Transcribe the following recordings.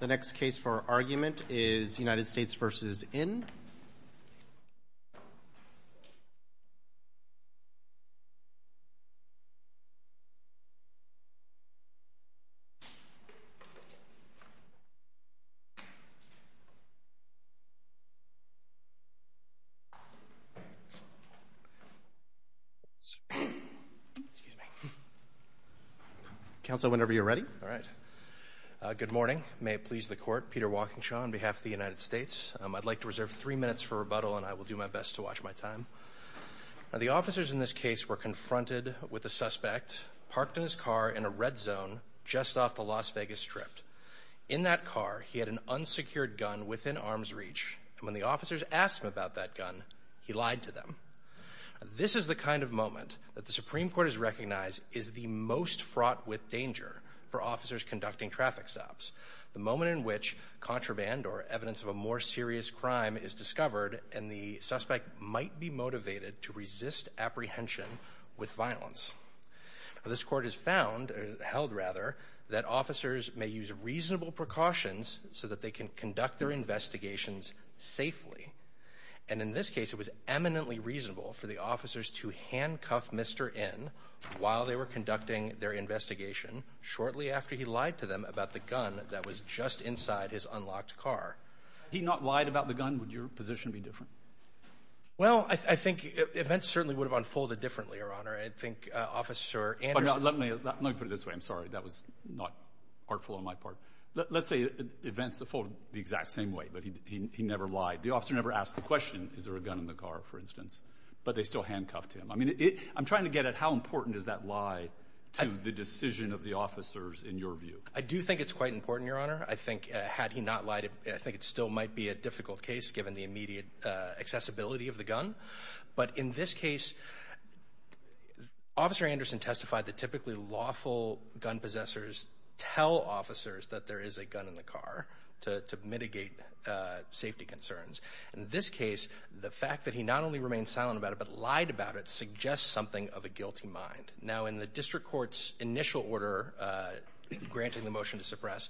The next case for argument is United States v. In. I would like to reserve three minutes for rebuttal, and I will do my best to respond. The officers in this case were confronted with a suspect parked in his car in a red zone just off the Las Vegas Strip. In that car, he had an unsecured gun within arm's reach, and when the officers asked him about that gun, he lied to them. This is the kind of moment that the Supreme Court has recognized is the most fraught with danger for officers conducting traffic stops. The moment in which contraband or evidence of a more serious crime is discovered, and the suspect might be motivated to resist apprehension with violence. This court has found, held rather, that officers may use reasonable precautions so that they can conduct their investigations safely. And in this case, it was eminently reasonable for the officers to handcuff Mr. In while they were conducting their investigation shortly after he lied to them about the gun that was just inside his unlocked car. Had he not lied about the gun, would your position be different? Well, I think events certainly would have unfolded differently, Your Honor. I think Officer Anderson Let me put it this way. I'm sorry. That was not artful on my part. Let's say events unfold the exact same way, but he never lied. The officer never asked the question, Is there a gun in the car, for instance? But they still handcuffed him. I mean, I'm trying to get at how important is that lie to the decision of the officers in your view? I do think it's quite important, Your Honor. I think had he not lied, I think it still might be a difficult case given the immediate accessibility of the gun. But in this case, Officer Anderson testified that typically lawful gun possessors tell officers that there is a gun in the car to mitigate safety concerns. In this case, the fact that he not only remained silent about it but lied about it suggests something of a guilty mind. Now, in the district court's initial order granting the motion to suppress,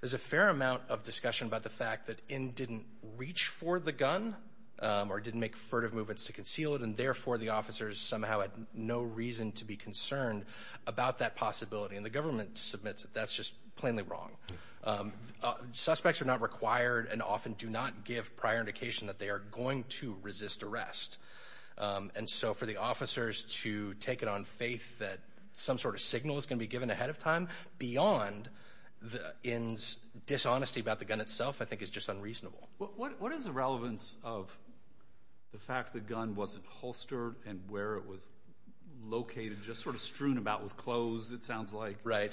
there's a fair amount of discussion about the fact that N didn't reach for the gun or didn't make furtive movements to conceal it, and therefore the officers somehow had no reason to be concerned about that possibility. And the government submits it. That's just plainly wrong. Suspects are not required and often do not give prior indication that they are going to resist arrest. And so for the officers to take it on faith that some sort of signal is going to be given ahead of time beyond N's dishonesty about the gun itself I think is just unreasonable. What is the relevance of the fact the gun wasn't holstered and where it was located? Just sort of strewn about with clothes it sounds like. Right.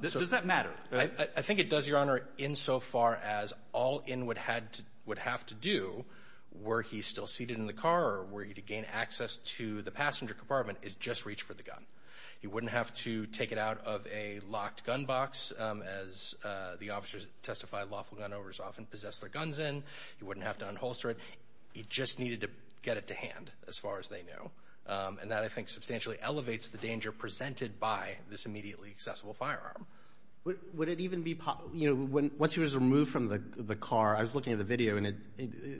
Does that matter? I think it does, Your Honor, insofar as all N would have to do were he still seated in the car or were he to gain access to the passenger compartment is just reach for the gun. He wouldn't have to take it out of a locked gun box as the officers testify lawful gun owners often possess their guns in. He wouldn't have to unholster it. He just needed to get it to hand as far as they knew. And that I think substantially elevates the danger presented by this immediately accessible firearm. Would it even be possible, you know, once he was removed from the car, I was looking at the video and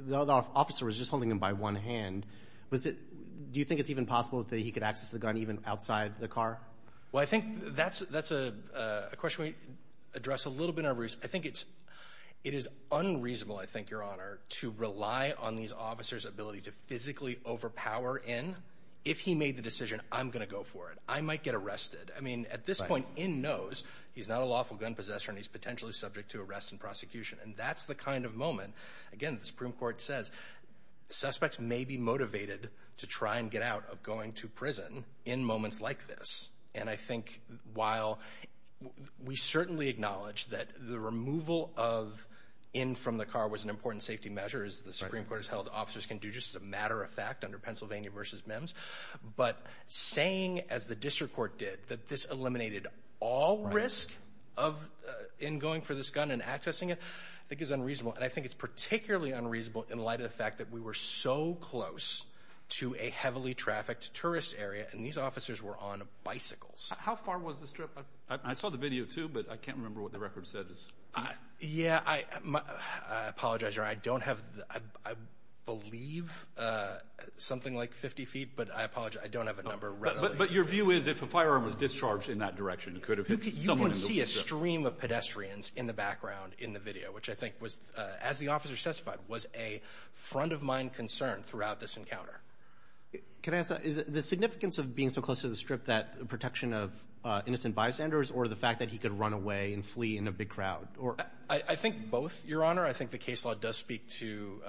the officer was just holding him by one hand. Do you think it's even possible that he could access the gun even outside the car? Well, I think that's a question we address a little bit in our briefs. I think it is unreasonable, I think, Your Honor, to rely on these officers' ability to physically overpower N. If he made the decision, I'm going to go for it. I might get arrested. I mean, at this point, N knows he's not a lawful gun possessor and he's potentially subject to arrest and prosecution. And that's the kind of moment, again, the Supreme Court says, suspects may be motivated to try and get out of going to prison in moments like this. And I think while we certainly acknowledge that the removal of N from the car was an important safety measure, as the Supreme Court has held officers can do just as a matter of fact under Pennsylvania v. Mims, but saying, as the district court did, that this eliminated all risk in going for this gun and accessing it, I think is unreasonable. And I think it's particularly unreasonable in light of the fact that we were so close to a heavily trafficked tourist area and these officers were on bicycles. How far was the strip? I saw the video, too, but I can't remember what the record said. Yeah, I apologize, Your Honor. I don't have, I believe, something like 50 feet, but I apologize. I don't have a number. But your view is if a firearm was discharged in that direction, it could have hit someone. You can see a stream of pedestrians in the background in the video, which I think was, as the officer testified, was a front-of-mind concern throughout this encounter. Can I ask, is the significance of being so close to the strip that protection of innocent bystanders or the fact that he could run away and flee in a big crowd? I think both, Your Honor. I think the case law does speak to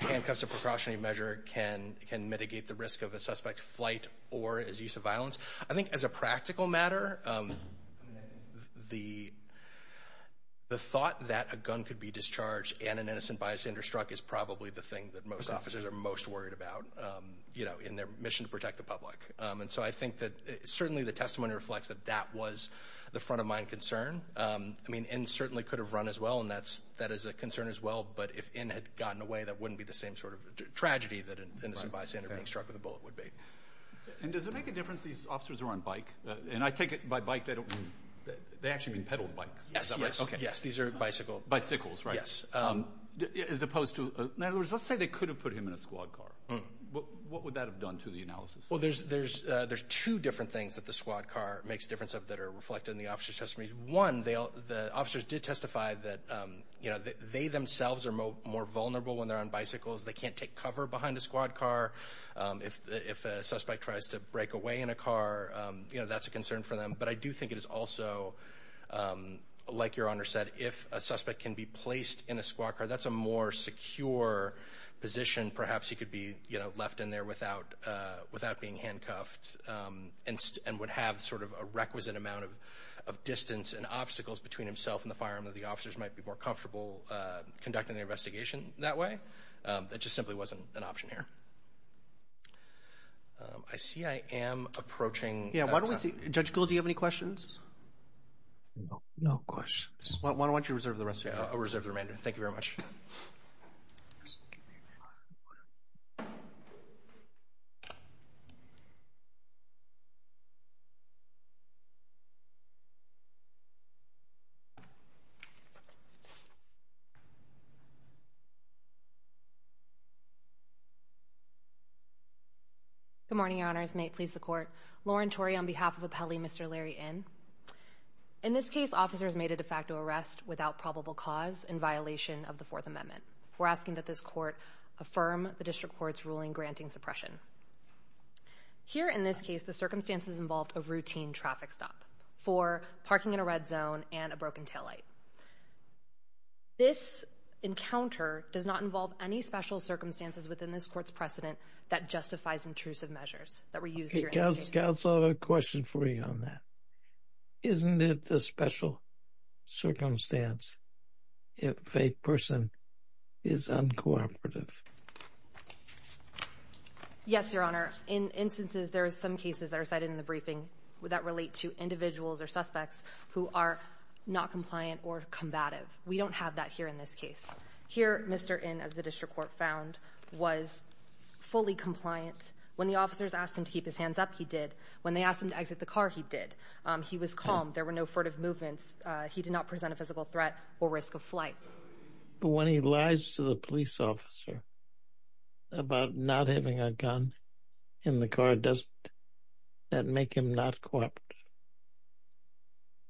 handcuffs of precautionary measure can mitigate the risk of a suspect's flight or his use of violence. I think as a practical matter, the thought that a gun could be discharged and an innocent bystander struck is probably the thing that most officers are most worried about in their mission to protect the public. And so I think that certainly the testimony reflects that that was the front-of-mind concern. I mean, N certainly could have run as well, and that is a concern as well. But if N had gotten away, that wouldn't be the same sort of tragedy that an innocent bystander being struck with a bullet would be. And does it make a difference these officers are on bike? And I take it by bike, they actually mean pedaled bikes. Yes, these are bicycles. Bicycles, right. Yes. As opposed to, in other words, let's say they could have put him in a squad car. What would that have done to the analysis? Well, there's two different things that the squad car makes a difference of that are reflected in the officer's testimony. One, the officers did testify that they themselves are more vulnerable when they're on bicycles. They can't take cover behind a squad car. If a suspect tries to break away in a car, that's a concern for them. But I do think it is also, like Your Honor said, if a suspect can be placed in a squad car, that's a more secure position. Perhaps he could be left in there without being handcuffed and would have sort of a requisite amount of distance and obstacles between himself and the firearm. The officers might be more comfortable conducting the investigation that way. It just simply wasn't an option here. I see I am approaching time. Judge Gould, do you have any questions? No questions. Why don't you reserve the rest of your time? I'll reserve the remainder. Thank you very much. Good morning, Your Honors. May it please the Court. Lauren Tory on behalf of Appelli, Mr. Larry Inn. In this case, officers made a de facto arrest without probable cause in violation of the Fourth Amendment. We're asking that this Court affirm the District Court's ruling granting suppression. Here in this case, the circumstances involved a routine traffic stop for parking in a red zone and a broken taillight. This encounter does not involve any special circumstances within this Court's precedent that justifies intrusive measures that were used here. Counsel, I have a question for you on that. Isn't it a special circumstance if a person is uncooperative? Yes, Your Honor. In instances, there are some cases that are cited in the briefing that relate to individuals or suspects who are not compliant or combative. We don't have that here in this case. Here, Mr. Inn, as the District Court found, was fully compliant. When the officers asked him to keep his hands up, he did. When they asked him to exit the car, he did. He was calm. There were no furtive movements. He did not present a physical threat or risk of flight. But when he lies to the police officer about not having a gun in the car, does that make him not cooperative?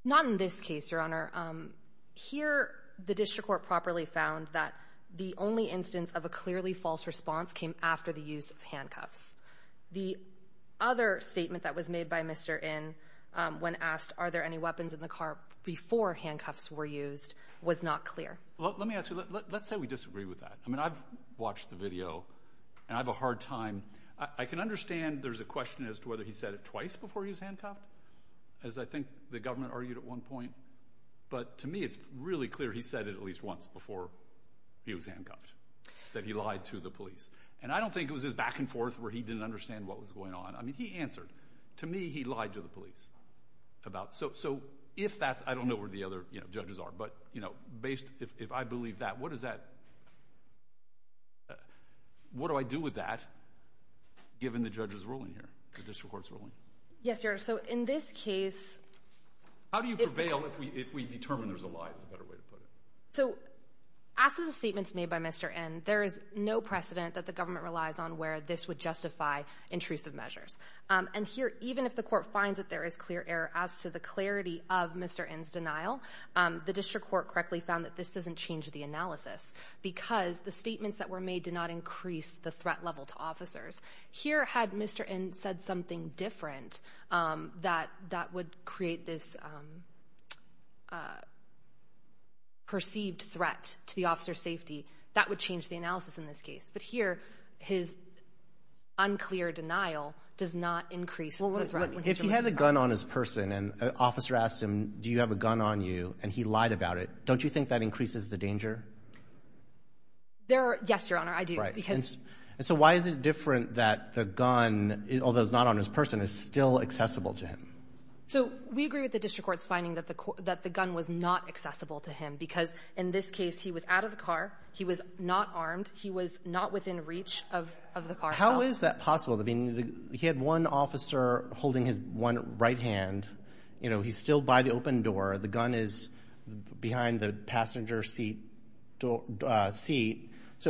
Not in this case, Your Honor. Here, the District Court properly found that the only instance of a clearly false response came after the use of handcuffs. The other statement that was made by Mr. Inn when asked are there any weapons in the car before handcuffs were used was not clear. Let me ask you. Let's say we disagree with that. I mean, I've watched the video, and I have a hard time. I can understand there's a question as to whether he said it twice before he was handcuffed. As I think the government argued at one point. But to me, it's really clear he said it at least once before he was handcuffed, that he lied to the police. And I don't think it was his back and forth where he didn't understand what was going on. I mean, he answered. To me, he lied to the police. So if that's – I don't know where the other judges are. But, you know, if I believe that, what does that – what do I do with that given the judge's ruling here, the District Court's ruling? Yes, Your Honor. So in this case – How do you prevail if we determine there's a lie is a better way to put it? So as to the statements made by Mr. Inn, there is no precedent that the government relies on where this would justify intrusive measures. And here, even if the court finds that there is clear error as to the clarity of Mr. Inn's denial, the District Court correctly found that this doesn't change the analysis because the statements that were made did not increase the threat level to officers. Here, had Mr. Inn said something different that would create this perceived threat to the officer's safety, that would change the analysis in this case. But here, his unclear denial does not increase the threat. If he had a gun on his person and an officer asked him, do you have a gun on you, and he lied about it, don't you think that increases the danger? Yes, Your Honor, I do. Right. And so why is it different that the gun, although it's not on his person, is still accessible to him? So we agree with the District Court's finding that the gun was not accessible to him because, in this case, he was out of the car. He was not armed. He was not within reach of the car itself. How is that possible? I mean, he had one officer holding his one right hand. You know, he's still by the open door. The gun is behind the passenger seat. So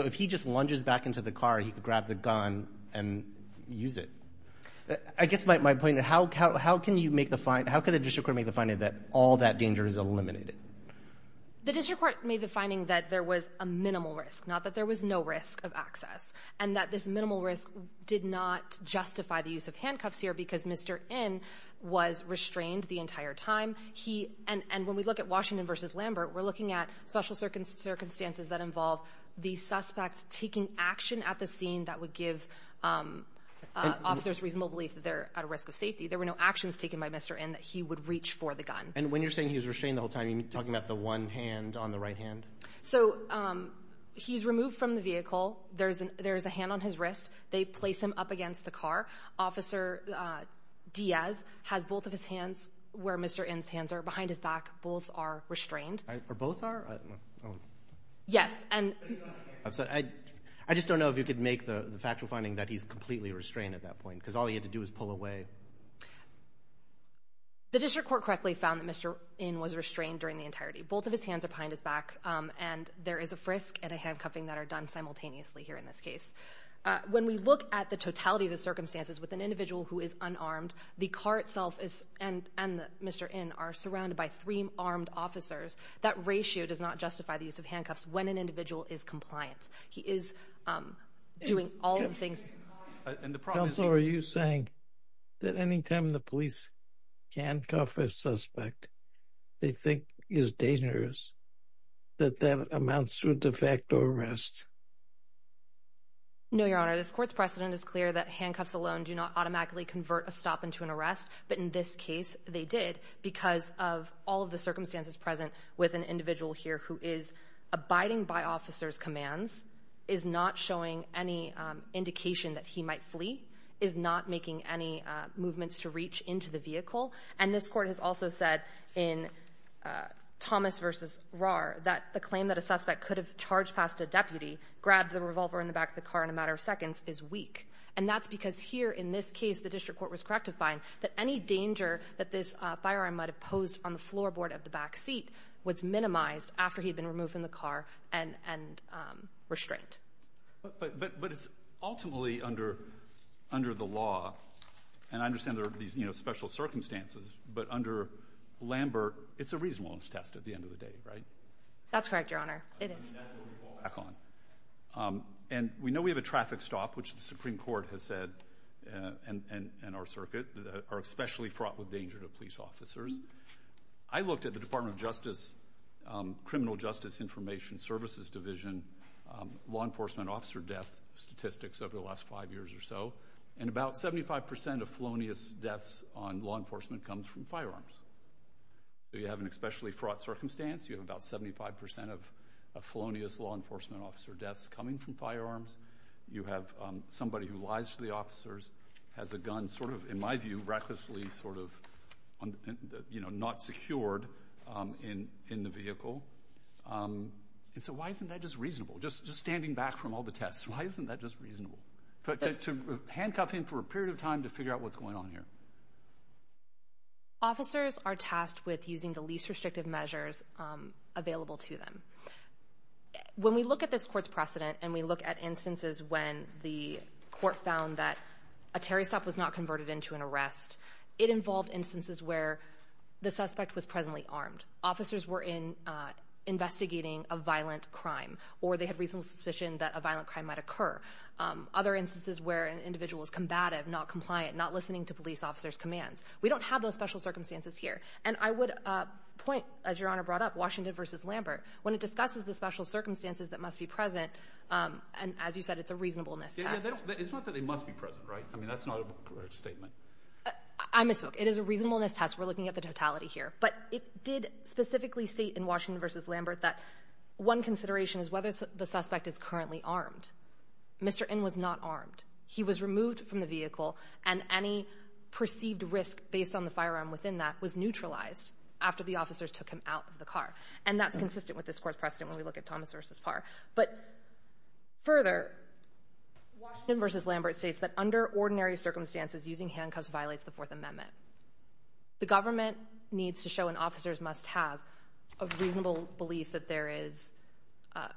if he just lunges back into the car, he could grab the gun and use it. I guess my point, how can the District Court make the finding that all that danger is eliminated? The District Court made the finding that there was a minimal risk, not that there was no risk of access, and that this minimal risk did not justify the use of handcuffs here because Mr. Inn was restrained the entire time. And when we look at Washington v. Lambert, we're looking at special circumstances that involve the suspect taking action at the scene that would give officers reasonable belief that they're at risk of safety. There were no actions taken by Mr. Inn that he would reach for the gun. And when you're saying he was restrained the whole time, are you talking about the one hand on the right hand? So he's removed from the vehicle. There's a hand on his wrist. They place him up against the car. Officer Diaz has both of his hands where Mr. Inn's hands are, behind his back. Both are restrained. Are both? Yes. I'm sorry. I just don't know if you could make the factual finding that he's completely restrained at that point because all he had to do was pull away. The District Court correctly found that Mr. Inn was restrained during the entirety. Both of his hands are behind his back, and there is a frisk and a handcuffing that are done simultaneously here in this case. When we look at the totality of the circumstances with an individual who is unarmed, the car itself and Mr. Inn are surrounded by three armed officers. That ratio does not justify the use of handcuffs when an individual is compliant. He is doing all the things. Counsel, are you saying that any time the police handcuff a suspect they think is dangerous that that amounts to a de facto arrest? No, Your Honor. This court's precedent is clear that handcuffs alone do not automatically convert a stop into an arrest, but in this case they did because of all of the circumstances present with an individual here who is abiding by officers' commands, is not showing any indication that he might flee, is not making any movements to reach into the vehicle. And this Court has also said in Thomas v. Rahr that the claim that a suspect could have charged past a deputy, grabbed the revolver in the back of the car in a matter of seconds, is weak. And that's because here in this case the District Court was correct to find that any danger that this firearm might have posed on the floorboard of the back seat was minimized after he had been removed from the car and restraint. But it's ultimately under the law, and I understand there are these special circumstances, but under Lambert it's a reasonableness test at the end of the day, right? That's correct, Your Honor. It is. And we know we have a traffic stop, which the Supreme Court has said and our circuit are especially fraught with danger to police officers. I looked at the Department of Justice, Criminal Justice Information Services Division, law enforcement officer death statistics over the last five years or so, and about 75 percent of felonious deaths on law enforcement comes from firearms. So you have an especially fraught circumstance. You have about 75 percent of felonious law enforcement officer deaths coming from firearms. You have somebody who lies to the officers, has a gun, sort of, in my view, recklessly, sort of, not secured in the vehicle. And so why isn't that just reasonable? Just standing back from all the tests, why isn't that just reasonable? To handcuff him for a period of time to figure out what's going on here. Officers are tasked with using the least restrictive measures available to them. When we look at this court's precedent and we look at instances when the court found that a Terry stop was not converted into an arrest, it involved instances where the suspect was presently armed. Officers were investigating a violent crime or they had reasonable suspicion that a violent crime might occur. Other instances where an individual is combative, not compliant, not listening to police officers' commands. We don't have those special circumstances here. And I would point, as Your Honor brought up, Washington versus Lambert. When it discusses the special circumstances that must be present, and as you said, it's a reasonableness test. It's not that they must be present, right? I mean, that's not a correct statement. I misspoke. It is a reasonableness test. We're looking at the totality here. But it did specifically state in Washington versus Lambert that one consideration is whether the suspect is currently armed. Mr. In was not armed. He was removed from the vehicle, and any perceived risk based on the firearm within that was neutralized after the officers took him out of the car. And that's consistent with this court's precedent when we look at Thomas v. Parr. But further, Washington versus Lambert states that under ordinary circumstances, using handcuffs violates the Fourth Amendment. The government needs to show and officers must have a reasonable belief that there is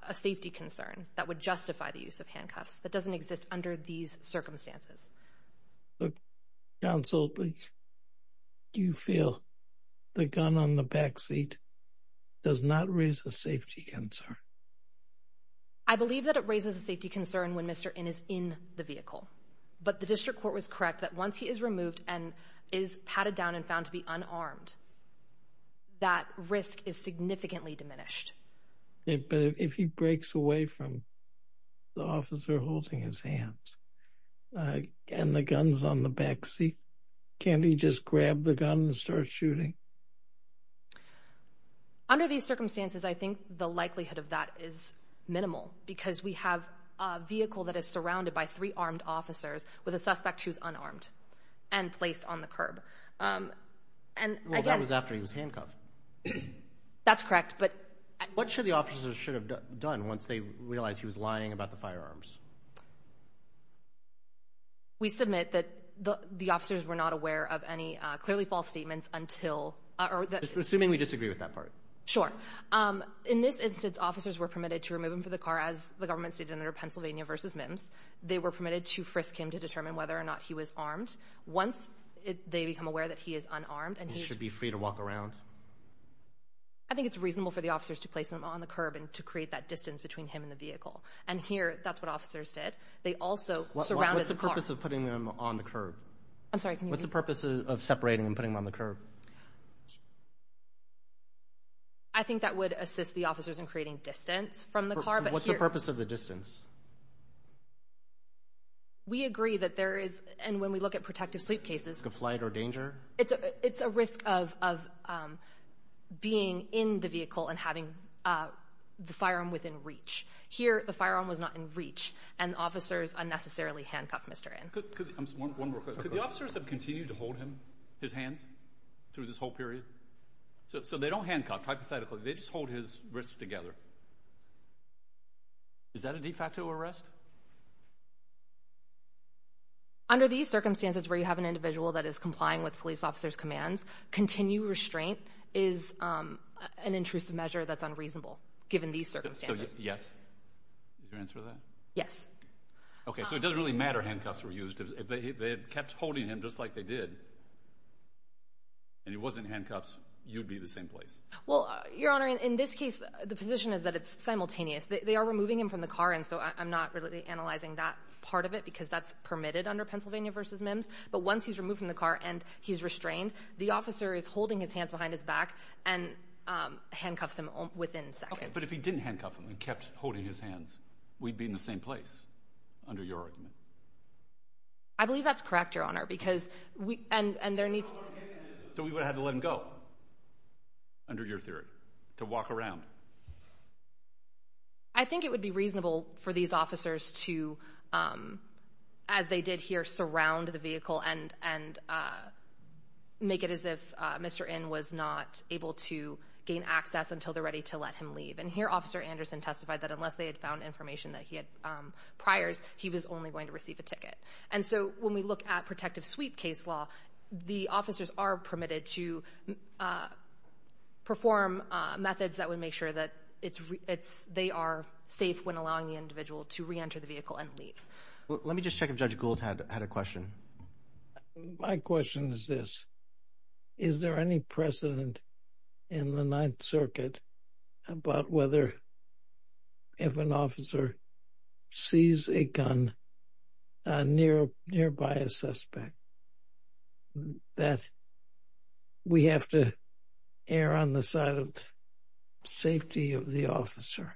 a safety concern that would justify the use of handcuffs that doesn't exist under these circumstances. Counsel, do you feel the gun on the backseat does not raise a safety concern? I believe that it raises a safety concern when Mr. In is in the vehicle. But the district court was correct that once he is removed and is patted down and found to be unarmed, that risk is significantly diminished. But if he breaks away from the officer holding his hands and the gun is on the backseat, can't he just grab the gun and start shooting? Under these circumstances, I think the likelihood of that is minimal because we have a vehicle that is surrounded by three armed officers with a suspect who is unarmed and placed on the curb. Well, that was after he was handcuffed. That's correct. What should the officers should have done once they realized he was lying about the firearms? We submit that the officers were not aware of any clearly false statements until or that Assuming we disagree with that part. Sure. In this instance, officers were permitted to remove him from the car, as the government stated under Pennsylvania versus Mims. They were permitted to frisk him to determine whether or not he was armed. Once they become aware that he is unarmed and he should be free to walk around? I think it's reasonable for the officers to place him on the curb and to create that distance between him and the vehicle. And here, that's what officers did. They also surrounded the car. What's the purpose of putting him on the curb? I'm sorry, can you repeat? What's the purpose of separating and putting him on the curb? I think that would assist the officers in creating distance from the car. What's the purpose of the distance? We agree that there is, and when we look at protective sleep cases, Risk of flight or danger? It's a risk of being in the vehicle and having the firearm within reach. Here, the firearm was not in reach, and officers unnecessarily handcuffed Mr. In. One more question. Could the officers have continued to hold him, his hands, through this whole period? So they don't handcuff, hypothetically. They just hold his wrists together. Is that a de facto arrest? Under these circumstances where you have an individual that is complying with police officers' commands, continued restraint is an intrusive measure that's unreasonable, given these circumstances. So, yes. Is your answer to that? Yes. Okay, so it doesn't really matter handcuffs were used. If they had kept holding him just like they did, and he wasn't handcuffed, you'd be in the same place. Well, Your Honor, in this case, the position is that it's simultaneous. They are removing him from the car, and so I'm not really concerned about that. I'm absolutely analyzing that part of it, because that's permitted under Pennsylvania v. MIMS. But once he's removed from the car and he's restrained, the officer is holding his hands behind his back and handcuffs him within seconds. Okay, but if he didn't handcuff him and kept holding his hands, we'd be in the same place, under your argument. I believe that's correct, Your Honor, because there needs to be. So we would have had to let him go, under your theory, to walk around. I think it would be reasonable for these officers to, as they did here, surround the vehicle and make it as if Mr. In was not able to gain access until they're ready to let him leave. And here Officer Anderson testified that unless they had found information that he had priors, he was only going to receive a ticket. And so when we look at protective sweep case law, the officers are permitted to perform methods that would make sure that they are safe when allowing the individual to reenter the vehicle and leave. Let me just check if Judge Gould had a question. My question is this. Is there any precedent in the Ninth Circuit about whether if an officer sees a gun nearby a suspect that we have to err on the side of safety of the officer?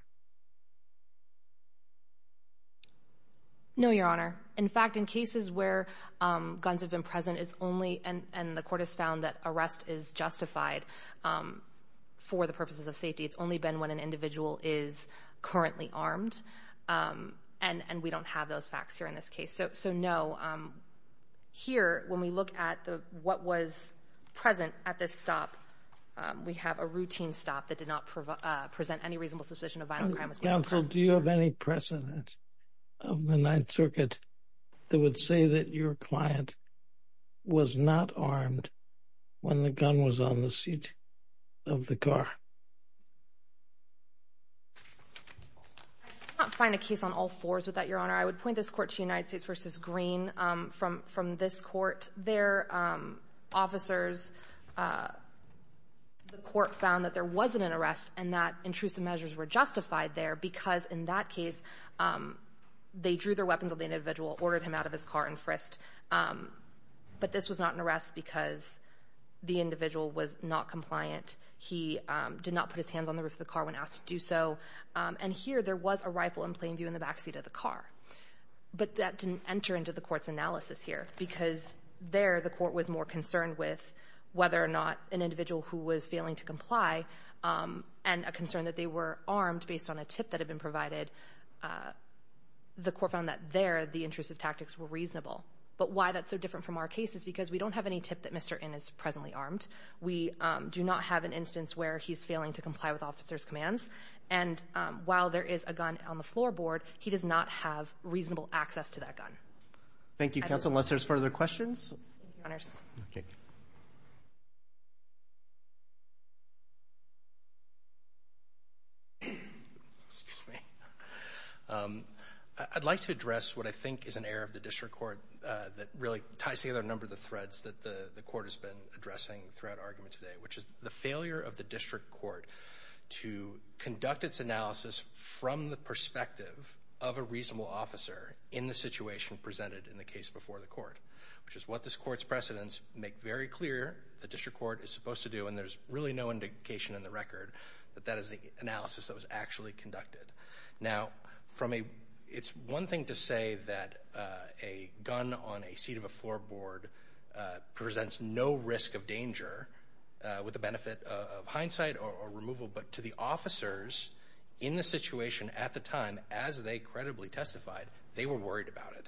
No, Your Honor. In fact, in cases where guns have been present, it's only – and the court has found that arrest is justified for the purposes of safety. It's only been when an individual is currently armed, and we don't have those facts here in this case. So, no. Here, when we look at what was present at this stop, we have a routine stop that did not present any reasonable suspicion of violent crime as well. Counsel, do you have any precedent of the Ninth Circuit that would say that your client was not armed when the gun was on the seat of the car? I cannot find a case on all fours with that, Your Honor. I would point this Court to United States v. Green. From this Court, their officers, the court found that there wasn't an arrest and that intrusive measures were justified there because, in that case, they drew their weapons on the individual, ordered him out of his car and frisked. But this was not an arrest because the individual was not compliant. He did not put his hands on the roof of the car when asked to do so. And here, there was a rifle in plain view in the backseat of the car. But that didn't enter into the Court's analysis here because there, the Court was more concerned with whether or not an individual who was failing to comply and a concern that they were armed based on a tip that had been provided, the Court found that there the intrusive tactics were reasonable. But why that's so different from our case is because we don't have any tip that Mr. N. is presently armed. We do not have an instance where he's failing to comply with officers' commands. And while there is a gun on the floorboard, he does not have reasonable access to that gun. Thank you, Counsel. Unless there's further questions? Okay. Excuse me. I'd like to address what I think is an error of the District Court that really ties together a number of the threads that the Court has been addressing throughout argument today, which is the failure of the District Court to conduct its analysis from the perspective of a reasonable officer in the situation presented in the case before the Court, which is what this Court's precedents make very clear the District Court is supposed to do, and there's really no indication in the record that that is the analysis that was actually conducted. Now, it's one thing to say that a gun on a seat of a floorboard presents no risk of danger, with the benefit of hindsight or removal, but to the officers in the situation at the time, as they credibly testified, they were worried about it.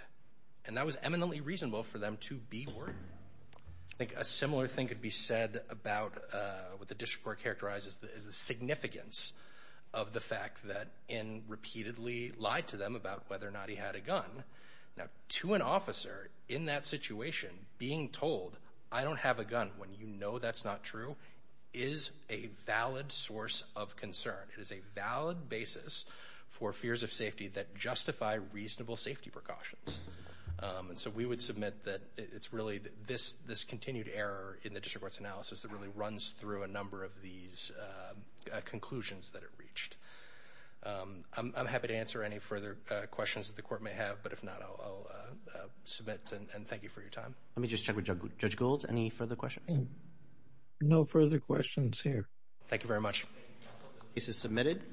And that was eminently reasonable for them to be worried. I think a similar thing could be said about what the District Court characterizes as the significance of the fact that N. repeatedly lied to them about whether or not he had a gun. Now, to an officer in that situation, being told, I don't have a gun when you know that's not true, is a valid source of concern. It is a valid basis for fears of safety that justify reasonable safety precautions. And so we would submit that it's really this continued error in the District Court's analysis that really runs through a number of these conclusions that it reached. I'm happy to answer any further questions that the Court may have. But if not, I'll submit and thank you for your time. Let me just check with Judge Gould. Any further questions? No further questions here. Thank you very much. Case is submitted.